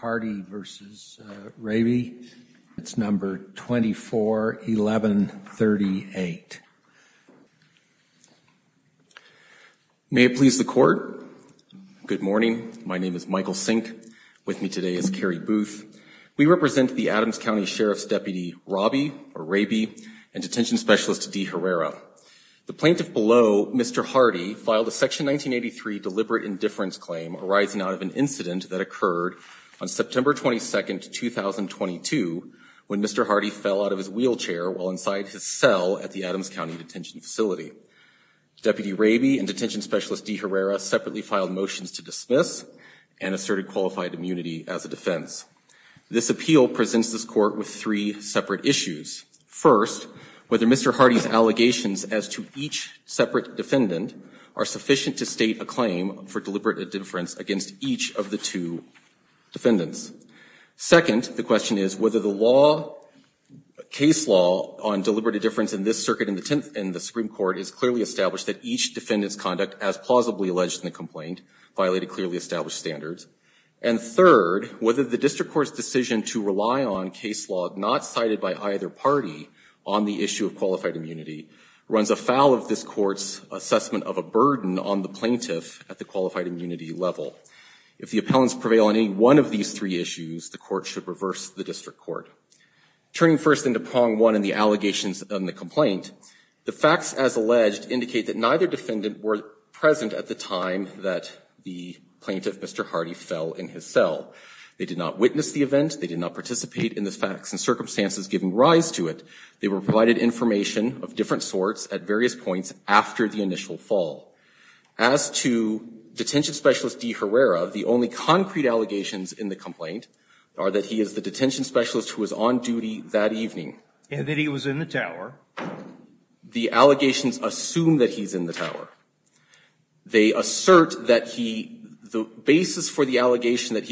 and Hardy v. Rabie. It's number 241138. May it please the Court. Good morning. My name is Michael Sink. With me today is Kerry Booth. We represent the Adams County Sheriff's Deputy, Robbie, or Rabie, and Detention Specialist D. Herrera. The plaintiff below, Mr. Hardy, filed a Section 1983 deliberate indifference claim arising out of an incident that occurred on September 22, 2022, when Mr. Hardy fell out of his wheelchair while inside his cell at the Adams County Detention Facility. Deputy Rabie and Detention Specialist D. Herrera separately filed motions to dismiss and asserted qualified immunity as a defense. This appeal presents this Court with three separate issues. First, whether Mr. Hardy's allegations as to each separate defendant are sufficient to state a claim for deliberate indifference against each of the two defendants. Second, the question is whether the law, case law, on deliberate indifference in this circuit in the Supreme Court has clearly established that each defendant's conduct as plausibly alleged in the complaint violated clearly established standards. And third, whether the District Court's decision to rely on case law not cited by either party on the issue of qualified immunity runs afoul of this Court's assessment of a burden on the plaintiff at the qualified immunity level. If the appellants prevail on any one of these three issues, the Court should reverse the District Court. Turning first into prong one in the allegations in the complaint, the facts as alleged indicate that neither defendant were present at the time that the plaintiff, Mr. Hardy, fell in his cell. They did not witness the event. They did not participate in the facts and circumstances giving rise to it. They were provided information of different sorts at various points after the initial fall. As to Detention Specialist D. Herrera, the only concrete allegations in the complaint are that he is the detention specialist who was on duty that evening. And that he was in the tower. The allegations assume that he's in the tower. They assert that he the basis for the quotation that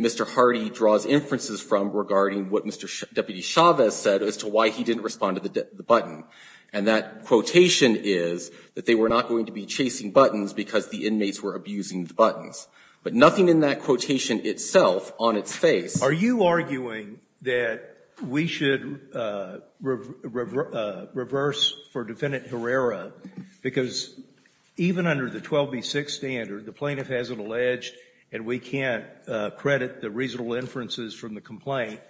Mr. Hardy draws inferences from regarding what Mr. Deputy Chavez said as to why he didn't respond to the button. And that quotation is that they were not going to be chasing buttons because the inmates were abusing the buttons. But nothing in that quotation itself on its face. Scalia. Are you arguing that we should reverse for Defendant Herrera? Because even under the 12B6 standard, the plaintiff hasn't alleged, and we can't credit the reasonable inferences from the complaint,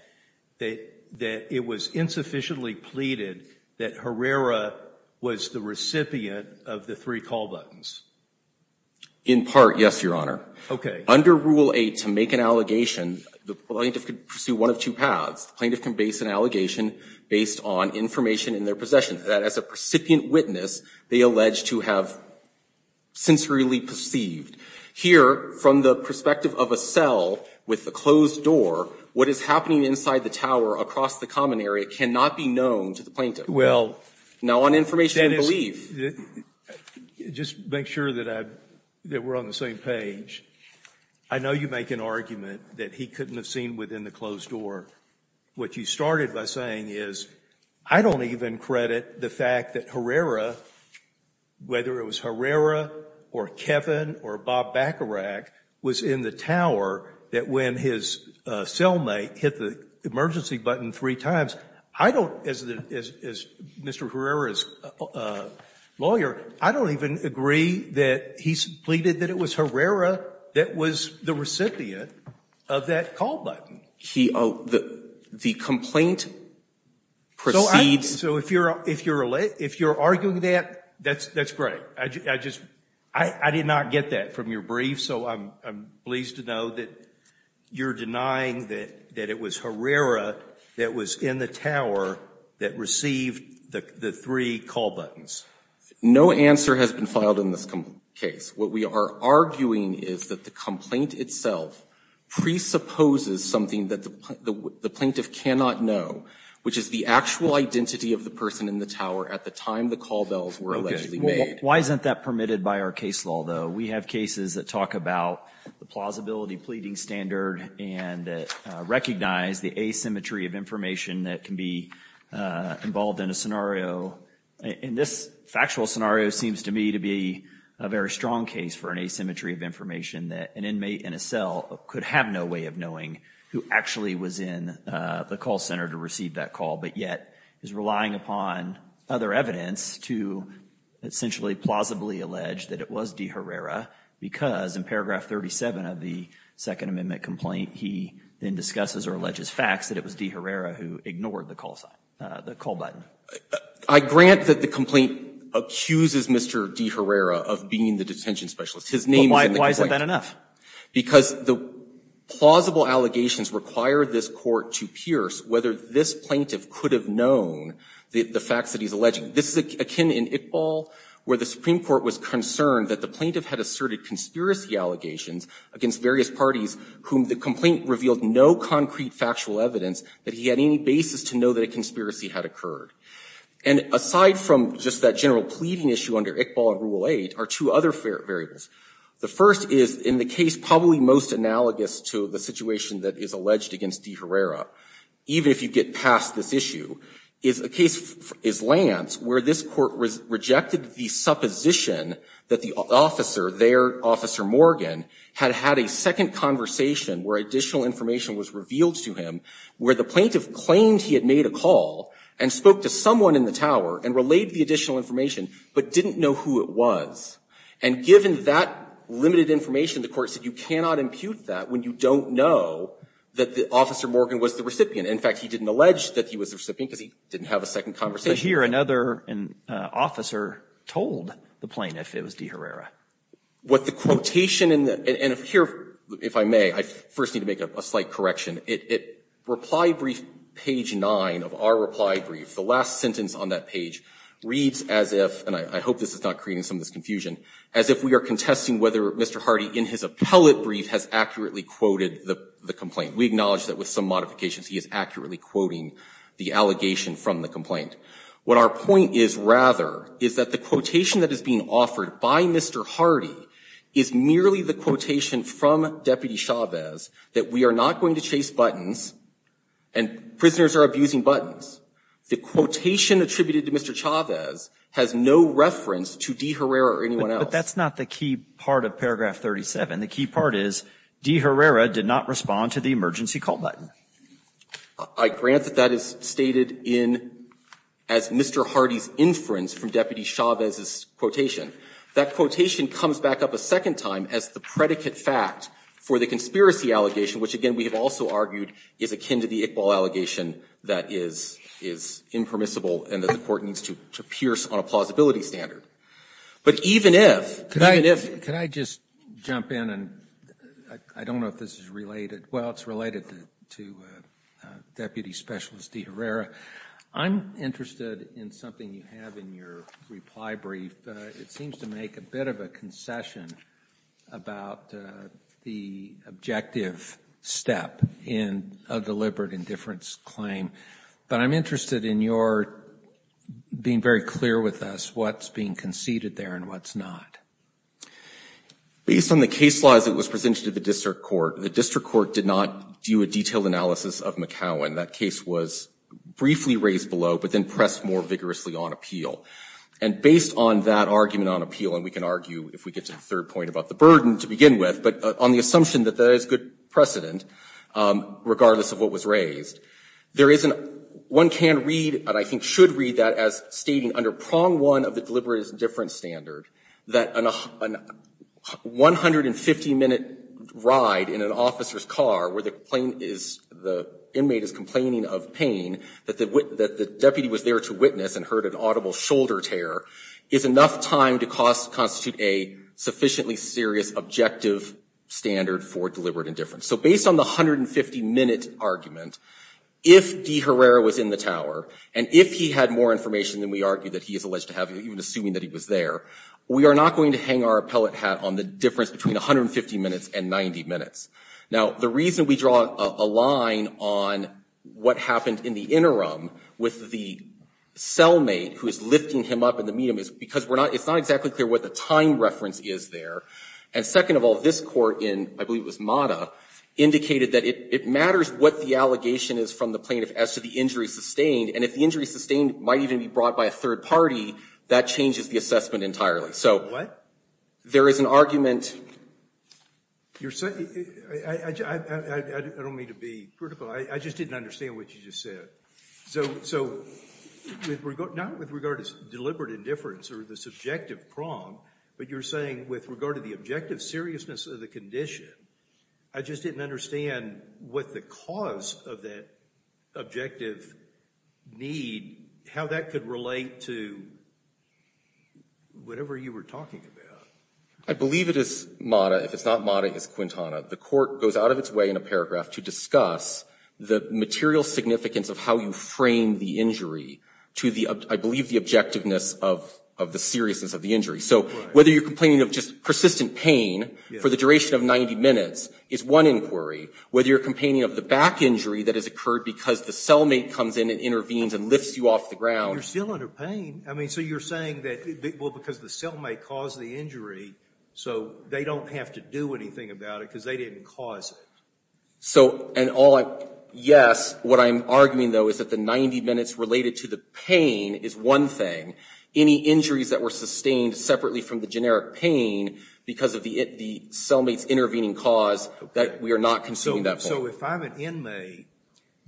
that it was insufficiently pleaded that Herrera was the recipient of the three call buttons? In part, yes, Your Honor. Okay. Under Rule 8, to make an allegation, the plaintiff could pursue one of two paths. The plaintiff can base an allegation based on information in their possession. That as a recipient witness, they allege to have sensorily perceived. Here, from the perspective of a cell with the closed door, what is happening inside the tower across the common area cannot be known to the plaintiff. Well, Dennis, just make sure that we're on the same page. I know you make an argument that he couldn't have seen within the closed door. What you started by saying is, I don't even credit the fact that Herrera, whether it was Herrera or Kevin or Bob Bacharach, was in the tower that when his cellmate hit the emergency button three times. I don't, as Mr. Herrera's lawyer, I don't even agree that he's pleaded that it was Herrera that was the recipient of that call button. The complaint proceeds- So if you're arguing that, that's great. I just, I did not get that from your brief, so I'm pleased to know that you're denying that it was Herrera that was in the tower that received the three call buttons. No answer has been filed in this case. What we are arguing is that the complaint itself presupposes something that the plaintiff cannot know, which is the actual identity of the person in the tower at the time the call bells were allegedly made. Why isn't that permitted by our case law, though? We have cases that talk about the plausibility pleading standard and that recognize the asymmetry of information that can be involved in a scenario. In this factual scenario, it seems to me to be a very strong case for an asymmetry of information that an inmate in a cell could have no way of knowing who actually was in the call center to receive that call, but yet is relying upon other evidence to essentially plausibly allege that it was D Herrera. Because in paragraph 37 of the Second Amendment complaint, he then discusses or alleges facts that it was D Herrera who ignored the call button. I grant that the complaint accuses Mr. D Herrera of being the detention specialist. His name is in the complaint. Why is that enough? Because the plausible allegations require this court to pierce whether this plaintiff could have known the facts that he's alleging. This is akin in Iqbal, where the Supreme Court was concerned that the plaintiff had asserted conspiracy allegations against various parties whom the complaint revealed no concrete factual evidence that he had any basis to know that a conspiracy had occurred. And aside from just that general pleading issue under Iqbal and Rule 8 are two other variables. The first is in the case probably most analogous to the situation that is alleged against D Herrera, even if you get past this issue, is a case, is Lance, where this court rejected the supposition that the officer, their officer Morgan, had had a second conversation where additional information was revealed to him, where the plaintiff claimed he had made a call and spoke to someone in the tower and relayed the additional information, but didn't know who it was. And given that limited information, the court said you cannot impute that when you don't know that the officer Morgan was the recipient. In fact, he didn't allege that he was the recipient because he didn't have a second conversation. But here another officer told the plaintiff it was D Herrera. What the quotation in the, and here, if I may, I first need to make a slight correction. It, it, reply brief page 9 of our reply brief, the last sentence on that page, reads as if, and I, I hope this is not creating some of this confusion, as if we are contesting whether Mr. Hardy in his appellate brief has accurately quoted the, the complaint. We acknowledge that with some modifications he is accurately quoting the allegation from the complaint. What our point is, rather, is that the quotation that is being offered by Mr. Hardy is merely the quotation from Deputy Chavez that we are not going to chase buttons and prisoners are abusing buttons. The quotation attributed to Mr. Chavez has no reference to D Herrera or anyone else. But that's not the key part of paragraph 37. The key part is D Herrera did not respond to the emergency call button. I grant that that is stated in, as Mr. Hardy's inference from Deputy Chavez's That quotation comes back up a second time as the predicate fact for the conspiracy allegation, which again, we have also argued is akin to the Iqbal allegation that is, is impermissible and that the court needs to, to pierce on a plausibility standard. But even if, even if. Could I just jump in and, I, I don't know if this is related. Well, it's related to Deputy Specialist D Herrera. I'm interested in something you have in your reply brief. It seems to make a bit of a concession about the objective step in a deliberate indifference claim. But I'm interested in your being very clear with us what's being conceded there and what's not. Based on the case laws that was presented to the district court, the district court did not do a detailed analysis of McCowan. That case was briefly raised below, but then pressed more vigorously on appeal. And based on that argument on appeal, and we can argue if we get to the third point about the burden to begin with, but on the assumption that there is good precedent, regardless of what was raised, there is an, one can read, and I think should read that as stating under prong one of the deliberate indifference standard, that an 150 minute ride in an officer's car where the plane is, the inmate is complaining of pain that the, that the deputy was there to witness and heard an audible shoulder tear is enough time to cost, constitute a sufficiently serious objective standard for deliberate indifference. So based on the 150 minute argument, if D Herrera was in the tower, and if he had more information than we argue that he is alleged to have, even assuming that he was there, we are not going to hang our appellate hat on the difference between 150 minutes and 90 minutes. Now, the reason we draw a line on what happened in the interim with the cellmate who is lifting him up in the medium is because we're not, it's not exactly clear what the time reference is there. And second of all, this court in, I believe it was Mata, indicated that it, it matters what the allegation is from the plaintiff as to the injury sustained. And if the injury sustained might even be brought by a third party, that changes the assessment entirely. So there is an argument. You're saying, I don't mean to be critical, I just didn't understand what you just said. So, so not with regard to deliberate indifference or the subjective prong, but you're saying with regard to the objective seriousness of the condition, I just didn't with the cause of that objective need, how that could relate to whatever you were talking about. I believe it is Mata, if it's not Mata, it's Quintana. The court goes out of its way in a paragraph to discuss the material significance of how you frame the injury to the, I believe the objectiveness of, of the seriousness of the injury. So whether you're complaining of just persistent pain for the duration of 90 minutes is one inquiry. Whether you're complaining of the back injury that has occurred because the cellmate comes in and intervenes and lifts you off the ground. You're still under pain. I mean, so you're saying that, well, because the cellmate caused the injury, so they don't have to do anything about it because they didn't cause it. So, and all I, yes, what I'm arguing though is that the 90 minutes related to the pain is one thing. Any injuries that were sustained separately from the generic pain because of the, the cellmate's intervening cause, that we are not considering that point. So if I'm an inmate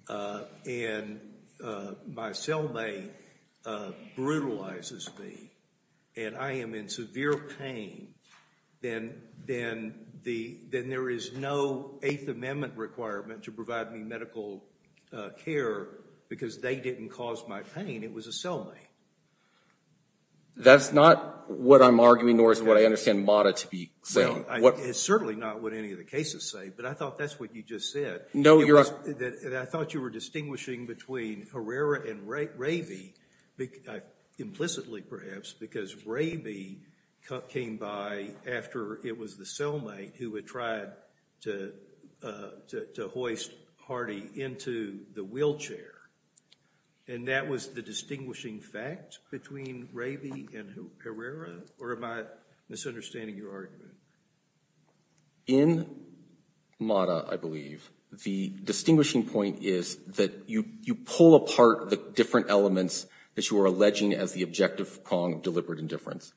and my cellmate brutalizes me and I am in severe pain, then, then the, then there is no Eighth Amendment requirement to provide me medical care because they didn't cause my pain. It was a cellmate. That's not what I'm arguing, nor is what I understand Mata to be saying. It's certainly not what any of the cases say, but I thought that's what you just said. No, Your Honor. I thought you were distinguishing between Herrera and Ravey, implicitly perhaps, because Ravey came by after it was the cellmate who had tried to hoist Hardy into the wheelchair. And that was the distinguishing fact between Ravey and Herrera? Or am I misunderstanding your argument? In Mata, I believe, the distinguishing point is that you, you pull apart the different elements that you are alleging as the objective prong of deliberate indifference.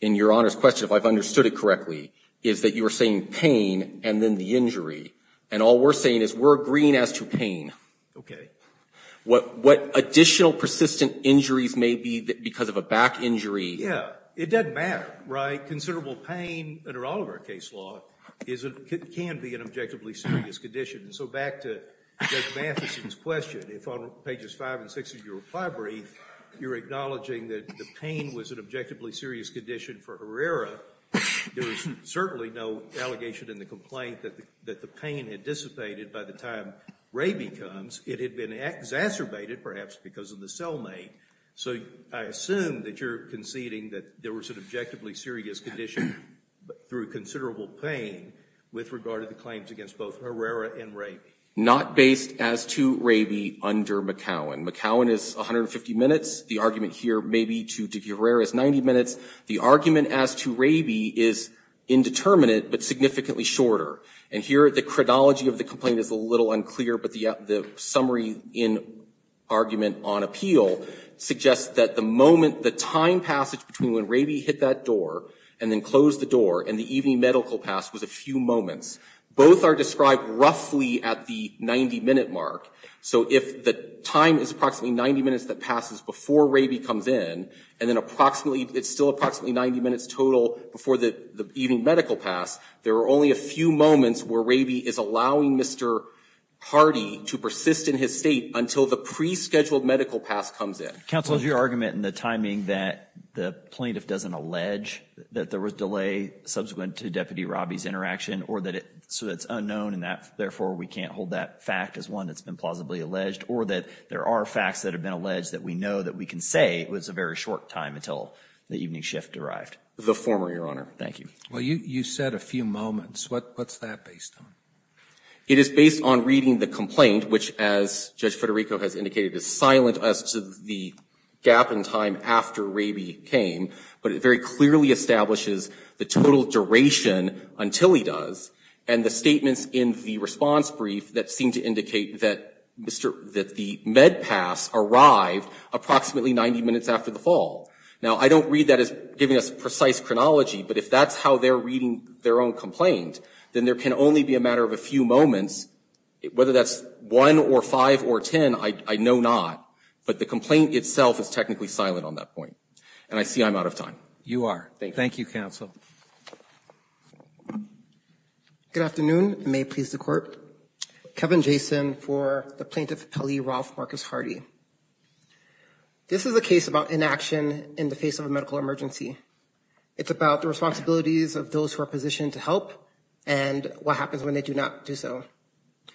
In Your Honor's question, if I've understood it correctly, is that you were saying pain and then the injury. And all we're saying is we're agreeing as to pain. Okay. What, what additional persistent injuries may be because of a back injury? Yeah. It doesn't matter, right? Considerable pain, under all of our case law, can be an objectively serious condition. And so back to Judge Matheson's question, if on pages five and six of your reply brief, you're acknowledging that the pain was an objectively serious condition for Herrera, there is certainly no allegation in the complaint that the pain had dissipated by the time Ravey comes. It had been exacerbated, perhaps, because of the cellmate. So I assume that you're conceding that there was an objectively serious condition through considerable pain with regard to the claims against both Herrera and Ravey. Not based as to Ravey under McCowan. McCowan is 150 minutes. The argument here, maybe, to Herrera is 90 minutes. The argument as to Ravey is indeterminate, but significantly shorter. And here, the chronology of the complaint is a little unclear. But the summary in argument on appeal suggests that the time passage between when Ravey hit that door and then closed the door and the evening medical pass was a few moments. Both are described roughly at the 90-minute mark. So if the time is approximately 90 minutes that passes before Ravey comes in, and then it's still approximately 90 minutes total before the evening medical pass, there are only a few moments where Ravey is allowing Mr. Hardy to persist in his state until the pre-scheduled medical pass comes in. Counsel, is your argument in the timing that the plaintiff doesn't allege that there was delay subsequent to Deputy Robby's interaction, or that it's unknown and therefore we can't hold that fact as one that's been plausibly alleged, or that there are facts that have been alleged that we know that we can say it was a very short time until the evening shift arrived? The former, Your Honor. Thank you. Well, you said a few moments. What's that based on? It is based on reading the complaint, which, as Judge Federico has indicated, is silent as to the gap in time after Ravey came, but it very clearly establishes the total duration until he does, and the statements in the response brief that seem to indicate that the med pass arrived approximately 90 minutes after the fall. Now, I don't read that as giving us precise chronology, but if that's how they're reading their own complaint, then there can only be a matter of a few moments. Whether that's 1 or 5 or 10, I know not, but the complaint itself is technically silent on that point. And I see I'm out of time. You are. Thank you. Thank you, Counsel. Good afternoon. It may please the Court. Kevin Jason for the Plaintiff Pele, Ralph Marcus Hardy. This is a case about inaction in the face of a medical emergency. It's about the responsibilities of those who are positioned to help and what happens when they do not do so.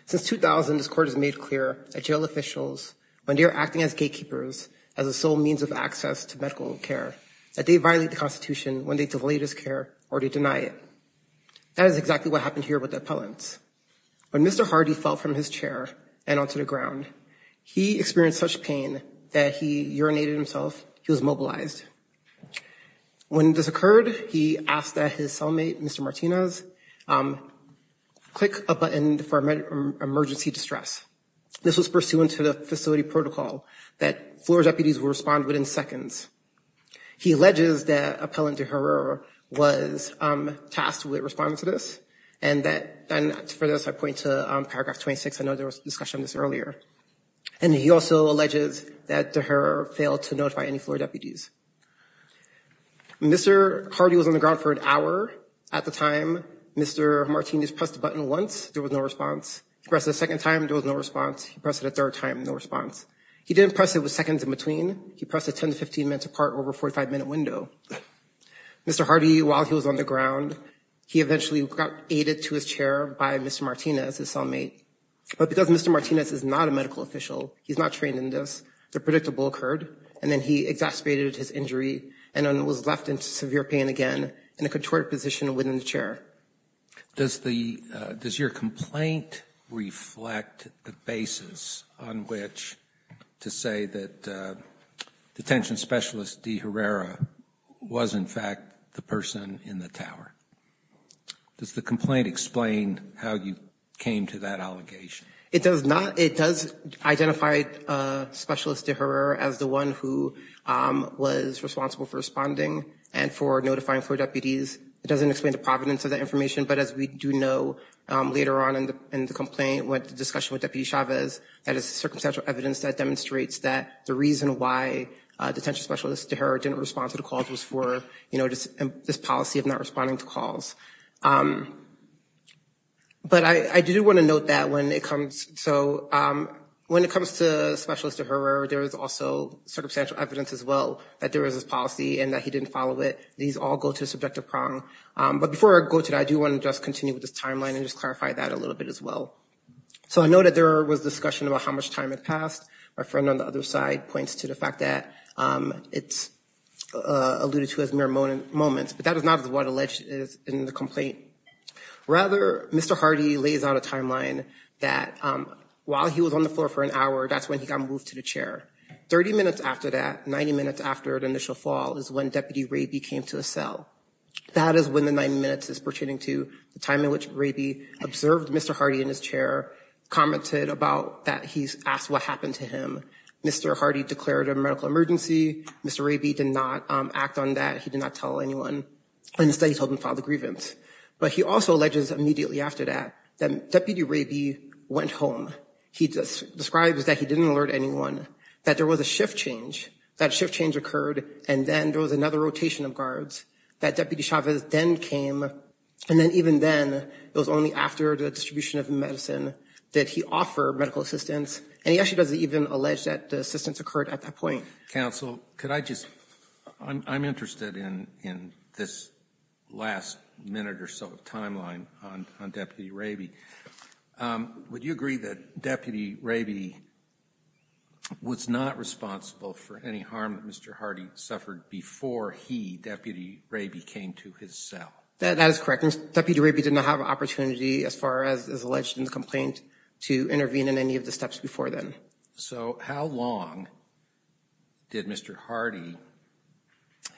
Since 2000, this Court has made clear that jail officials, when they're acting as gatekeepers, as a sole means of access to medical care, that they violate the Constitution when they delay this care or they deny it. That is exactly what happened here with the appellants. When Mr. Hardy fell from his chair and onto the ground, he experienced a moment of pain that he urinated himself. He was mobilized. When this occurred, he asked that his cellmate, Mr. Martinez, click a button for emergency distress. This was pursuant to the facility protocol that floor deputies will respond within seconds. He alleges that Appellant De Herrera was tasked with responding to this. And for this, I point to paragraph 26. I know there was discussion of this earlier. And he also alleges that De Herrera failed to notify any floor deputies. Mr. Hardy was on the ground for an hour. At the time, Mr. Martinez pressed the button once. There was no response. He pressed it a second time. There was no response. He pressed it a third time. No response. He didn't press it with seconds in between. He pressed it 10 to 15 minutes apart over a 45-minute window. Mr. Hardy, while he was on the ground, he eventually got aided to his chair by Mr. Martinez, his cellmate. But because Mr. Martinez is not a medical official, he's not trained in this, the predictable occurred. And then he exacerbated his injury and then was left in severe pain again in a contorted position within the chair. Does the, does your complaint reflect the basis on which to say that detention specialist De Herrera was, in fact, the person in the tower? Does the complaint explain how you came to that allegation? It does not. It does identify specialist De Herrera as the one who was responsible for responding and for notifying floor deputies. It doesn't explain the providence of that information. But as we do know, later on in the complaint, with the discussion with Deputy Chavez, that is circumstantial evidence that demonstrates that the reason why detention specialist De Herrera was not on the calls. But I do want to note that when it comes, so when it comes to specialist De Herrera, there is also circumstantial evidence as well that there was this policy and that he didn't follow it. These all go to a subjective prong. But before I go to that, I do want to just continue with this timeline and just clarify that a little bit as well. So I know that there was discussion about how much time had passed. My friend on the other side points to the fact that it's alluded to as mere moments, but that is not what is alleged in the complaint. Rather, Mr. Hardy lays out a timeline that while he was on the floor for an hour, that's when he got moved to the chair. 30 minutes after that, 90 minutes after the initial fall is when Deputy Raby came to a cell. That is when the 90 minutes is pertaining to the time in which Raby observed Mr. Hardy in his chair, commented about that he asked what happened to him. Mr. Hardy declared a medical emergency. Mr. Raby did not act on that. He did not tell anyone and instead he told them to file the grievance. But he also alleges immediately after that that Deputy Raby went home. He describes that he didn't alert anyone, that there was a shift change, that shift change occurred, and then there was another rotation of guards, that Deputy Chavez then came. And then even then, it was only after the distribution of medicine that he offered medical assistance. And he actually doesn't even allege that the assistance occurred at that point. Counsel, could I just, I'm interested in this last minute or so of timeline on Deputy Raby. Would you agree that Deputy Raby was not responsible for any harm that Mr. Hardy suffered before he, Deputy Raby, came to his cell? That is correct. Deputy Raby did not have an opportunity, as far as is alleged in the complaint, to intervene in any of the steps before then. So how long did Mr. Hardy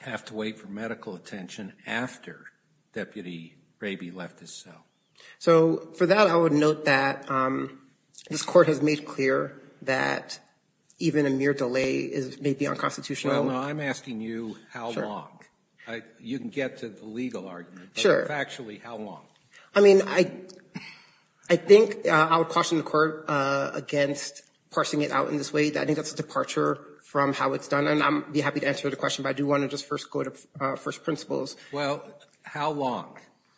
have to wait for medical attention after Deputy Raby left his cell? So for that, I would note that this Court has made clear that even a mere delay may be unconstitutional. Well, now I'm asking you how long. You can get to the legal argument, but factually, how long? I mean, I think I would caution the Court against parsing it out in this way. I think that's a departure from how it's done. And I'd be happy to answer the question, but I do want to just first go to first principles. Well, how long?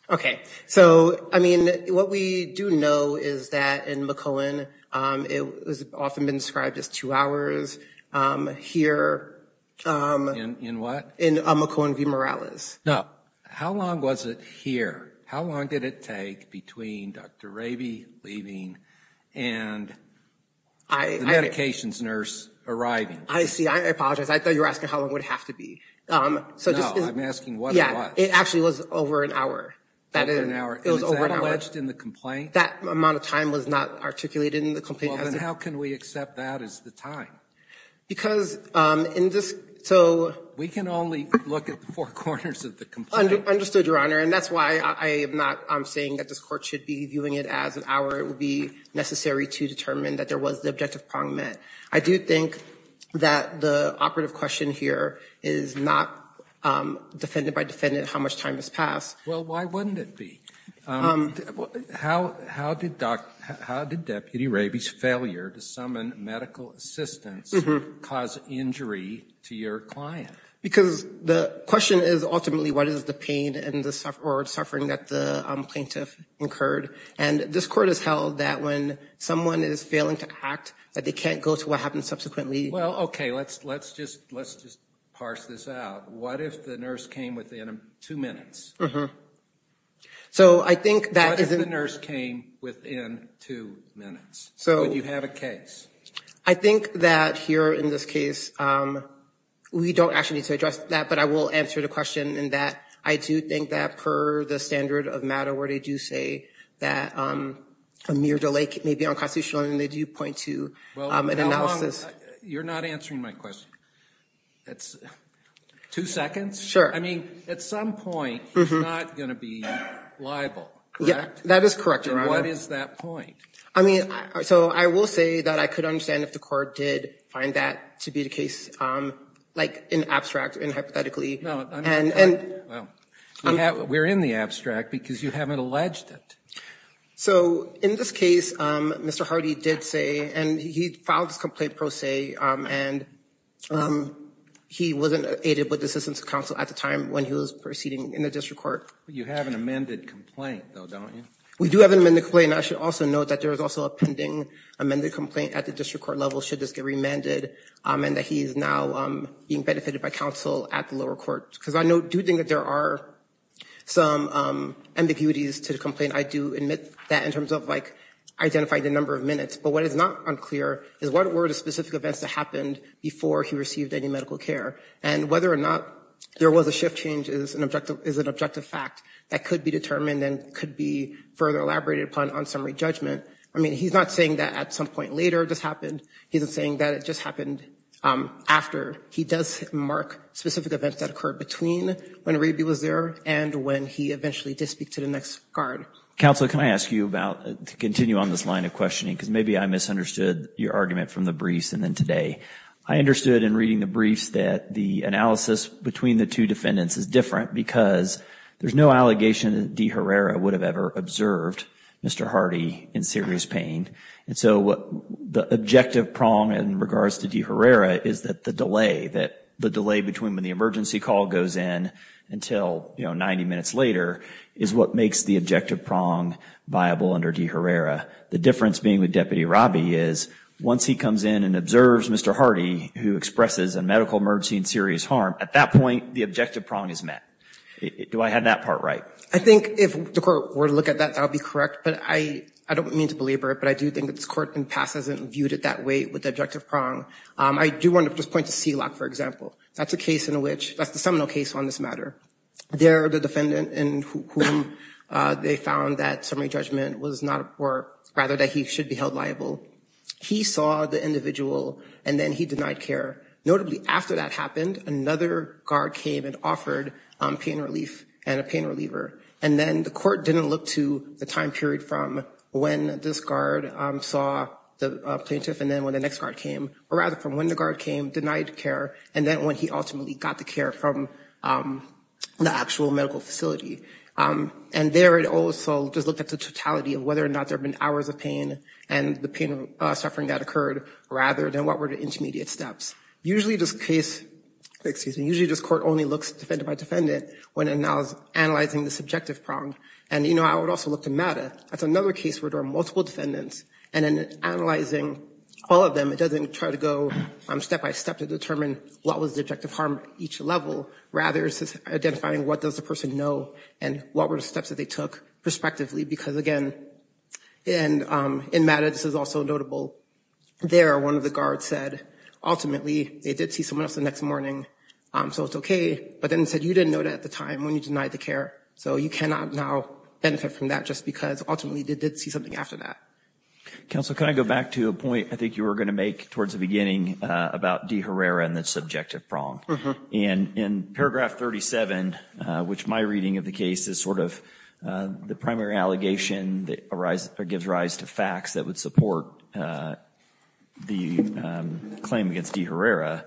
Okay. So, I mean, what we do know is that in McCohen, it was often been described as two hours. Here. In what? In McCohen v. Morales. No. How long was it here? How long did it take between Dr. Raby leaving and the medications nurse arriving? I see. I apologize. I thought you were asking how long it would have to be. No. I'm asking what it was. It actually was over an hour. Over an hour. It was over an hour. And is that alleged in the complaint? That amount of time was not articulated in the complaint. Well, then how can we accept that as the time? Because in this, so. We can only look at the four corners of the complaint. Understood, Your Honor. And that's why I'm saying that this court should be viewing it as an hour. It would be necessary to determine that there was the objective prong met. I do think that the operative question here is not defended by defendant how much time has passed. Well, why wouldn't it be? How did Deputy Raby's failure to summon medical assistance cause injury to your client? Because the question is, ultimately, what is the pain or suffering that the plaintiff incurred? And this court has held that when someone is failing to act, that they can't go to what happened subsequently. Well, OK. Let's just parse this out. What if the nurse came within two minutes? So I think that is. What if the nurse came within two minutes? So you have a case. I think that here, in this case, we don't actually need to address that. But I will answer the question in that I do think that per the standard of matter, where they do say that a mere delay may be unconstitutional. And they do point to an analysis. You're not answering my question. It's two seconds. Sure. I mean, at some point, he's not going to be liable, correct? That is correct, Your Honor. What is that point? I mean, so I will say that I could understand if the court did find that to be the case, like, in abstract, in hypothetically. No, I'm not talking about that. We're in the abstract, because you haven't alleged it. So in this case, Mr. Hardy did say, and he filed this complaint pro se, and he wasn't aided with the assistance of counsel at the time when he was proceeding in the district court. You have an amended complaint, though, don't you? We do have an amended complaint. I should also note that there is also a pending amended complaint at the district court level, should this get remanded, and that he is now being benefited by counsel at the lower court. Because I do think that there are some ambiguities to the complaint. I do admit that in terms of, like, identifying the number of minutes. But what is not unclear is, what were the specific events that happened before he received any medical care? And whether or not there was a shift change is an objective fact that could be determined and then could be further elaborated upon on summary judgment. I mean, he's not saying that at some point later it just happened. He's saying that it just happened after. He does mark specific events that occurred between when Raby was there and when he eventually did speak to the next guard. Counsel, can I ask you about, to continue on this line of questioning, because maybe I misunderstood your argument from the briefs and then today. I understood in reading the briefs that the analysis between the two defendants is different because there's no allegation that De Herrera would have ever observed Mr. Hardy in serious pain. And so the objective prong in regards to De Herrera is that the delay, that the delay between when the emergency call goes in until, you know, 90 minutes later, is what makes the objective prong viable under De Herrera. The difference being with Deputy Raby is, once he comes in and observes Mr. Hardy, who expresses a medical emergency and serious harm, at that point the objective prong is met. Do I have that part right? I think if the court were to look at that, that would be correct. But I don't mean to belabor it, but I do think that this court in the past hasn't viewed it that way with the objective prong. I do want to just point to Seelock, for example. That's a case in which, that's the seminal case on this matter. There, the defendant in whom they found that summary judgment was not, or rather that he should be held liable. He saw the individual and then he denied care. Notably, after that happened, another guard came and offered pain relief and a pain reliever. And then the court didn't look to the time period from when this guard saw the plaintiff and then when the next guard came, or rather from when the guard came, denied care, and then when he ultimately got the care from the actual medical facility. And there it also just looked at the totality of whether or not there have been hours of and the pain of suffering that occurred rather than what were the intermediate steps. Usually this case, excuse me, usually this court only looks at defendant by defendant when analyzing the subjective prong. And you know, I would also look to MATA. That's another case where there are multiple defendants. And in analyzing all of them, it doesn't try to go step by step to determine what was the objective harm at each level. Rather, it's identifying what does the person know and what were the steps that they took perspectively. Because again, and in MATA, this is also notable. There, one of the guards said, ultimately, they did see someone else the next morning. So it's okay. But then he said, you didn't know that at the time when you denied the care. So you cannot now benefit from that just because ultimately they did see something after that. Counsel, can I go back to a point I think you were going to make towards the beginning about De Herrera and the subjective prong? And in paragraph 37, which my reading of the case is sort of the primary allegation that gives rise to facts that would support the claim against De Herrera,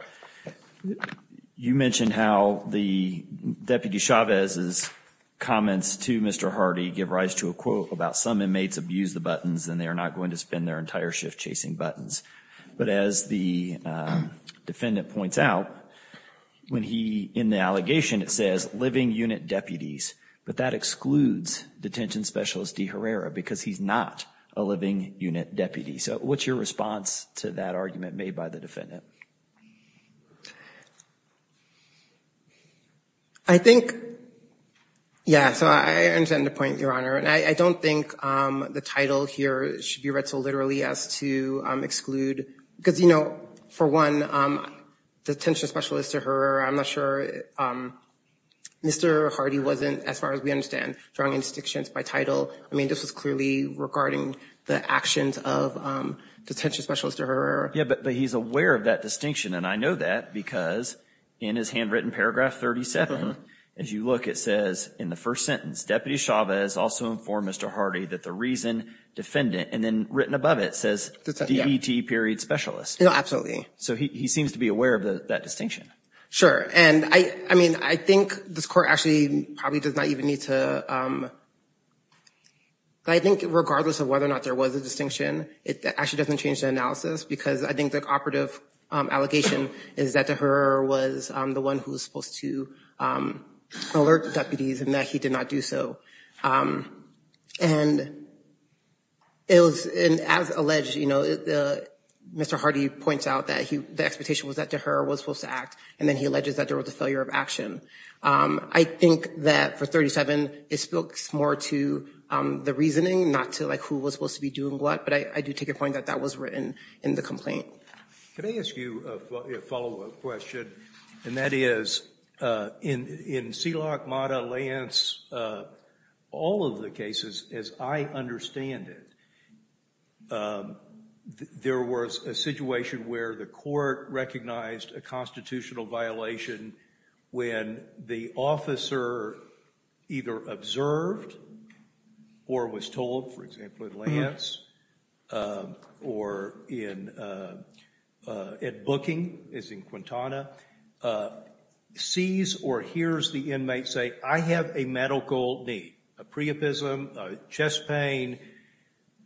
you mentioned how the Deputy Chavez's comments to Mr. Hardy give rise to a quote about some inmates abuse the buttons and they are not going to spend their entire shift chasing buttons. But as the defendant points out, when he, in the allegation, it says living unit deputies, but that excludes detention specialist De Herrera because he's not a living unit deputy. So what's your response to that argument made by the defendant? I think, yeah, so I understand the point, Your Honor. And I don't think the title here should be read so literally as to exclude, because, you know, for one, detention specialist De Herrera, I'm not sure, Mr. Hardy wasn't, as far as we understand, drawing any distinctions by title. I mean, this was clearly regarding the actions of detention specialist De Herrera. Yeah, but he's aware of that distinction. And I know that because in his handwritten paragraph 37, as you look, it says in the first sentence, Deputy Chavez also informed Mr. Hardy that the reason defendant and then written above it says DDT period specialist. No, absolutely. So he seems to be aware of that distinction. Sure. And I mean, I think this court actually probably does not even need to, I think regardless of whether or not there was a distinction, it actually doesn't change the analysis because I think the operative allegation is that De Herrera was the one who was supposed to alert the deputies and that he did not do so. And it was, and as alleged, you know, Mr. Hardy points out that he, the expectation was that De Herrera was supposed to act. And then he alleges that there was a failure of action. I think that for 37, it spoke more to the reasoning, not to like who was supposed to be doing what. But I do take your point that that was written in the complaint. Can I ask you a follow-up question? And that is in Seelock, Mata, Lance, all of the cases, as I understand it, there was a situation where the court recognized a constitutional violation when the officer either observed or was told, for example, in Lance or in, at Booking, as in Quintana, sees or hears the inmate say, I have a medical need, a pre-epism, a chest pain.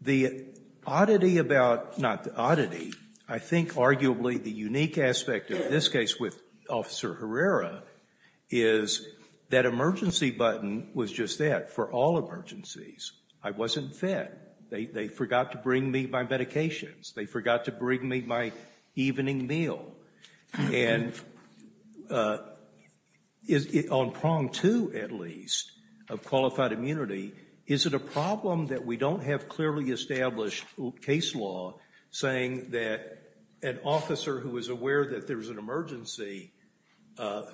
The oddity about, not the oddity, I think arguably the unique aspect of this case with Officer Herrera is that emergency button was just that for all emergencies. I wasn't fed. They forgot to bring me my medications. They forgot to bring me my evening meal. And on prong two, at least, of qualified immunity, is it a problem that we don't have clearly established case law saying that an officer who is aware that there's an emergency,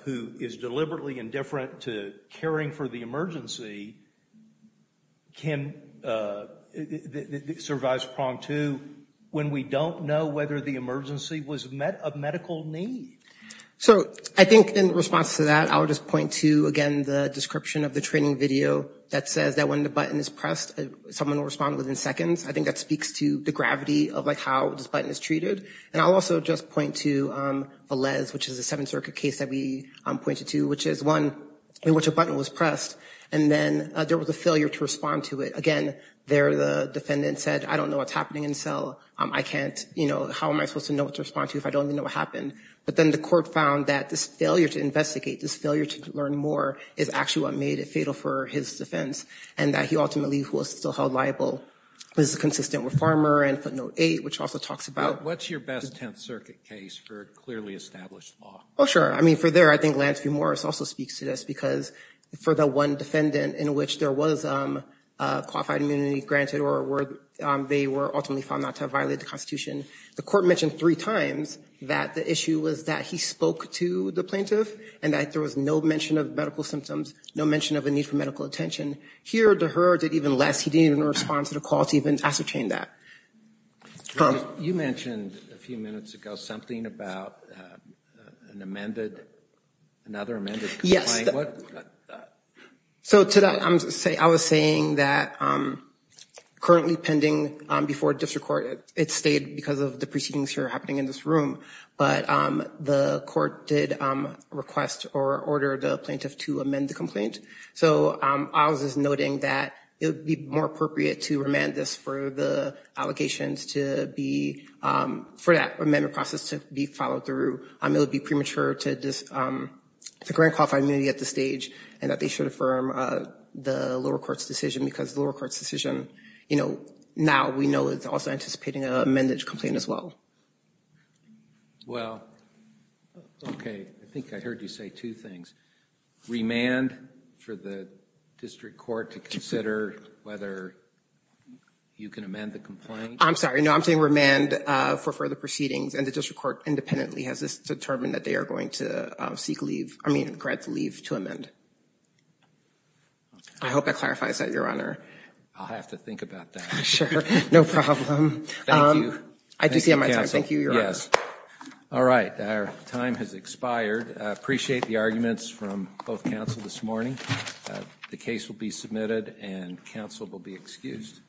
who is deliberately indifferent to caring for the emergency, can, survives prong two when we don't know whether the emergency was of medical need? So I think in response to that, I'll just point to, again, the description of the training video that says that when the button is pressed, someone will respond within seconds. I think that speaks to the gravity of like how this button is treated. And I'll also just point to Velez, which is a Seventh Circuit case that we pointed to, which is one in which a button was pressed and then there was a failure to respond to it. Again, there the defendant said, I don't know what's happening in cell. I can't, you know, how am I supposed to know what to respond to if I don't even know what happened? But then the court found that this failure to investigate, this failure to learn more, is actually what made it fatal for his defense and that he ultimately was still held liable. This is consistent with Farmer and footnote eight, which also talks about- What's your best Tenth Circuit case for clearly established law? Oh, sure. I mean, for there, I think Lance v. Morris also speaks to this because for the one defendant in which there was qualified immunity granted or they were ultimately found not to have violated the Constitution, the court mentioned three times that the issue was that he spoke to the plaintiff and that there was no mention of medical symptoms, no mention of a need for medical attention. Here, Deher did even less. He didn't even respond to the call to even ascertain that. Tom? You mentioned a few minutes ago something about an amended, another amended- Yes. So to that, I was saying that currently pending before district court, it stayed because of the proceedings here happening in this room, but the court did request or order the plaintiff to amend the complaint. So I was just noting that it would be more appropriate to remand this for the allegations to be- for that amendment process to be followed through. It would be premature to grant qualified immunity at this stage and that they should affirm the lower court's decision because the lower court's decision, you know, now we know it's also anticipating an amended complaint as well. Well, okay. I think I heard you say two things. Remand for the district court to consider whether you can amend the complaint. I'm sorry. No, I'm saying remand for further proceedings and the district court independently has this determined that they are going to seek leave. I mean, grant leave to amend. I hope that clarifies that, Your Honor. I'll have to think about that. Sure. No problem. Thank you. I do see my time. Thank you, Your Honor. Yes. All right. Our time has expired. I appreciate the arguments from both counsel this morning. The case will be submitted and counsel will be excused.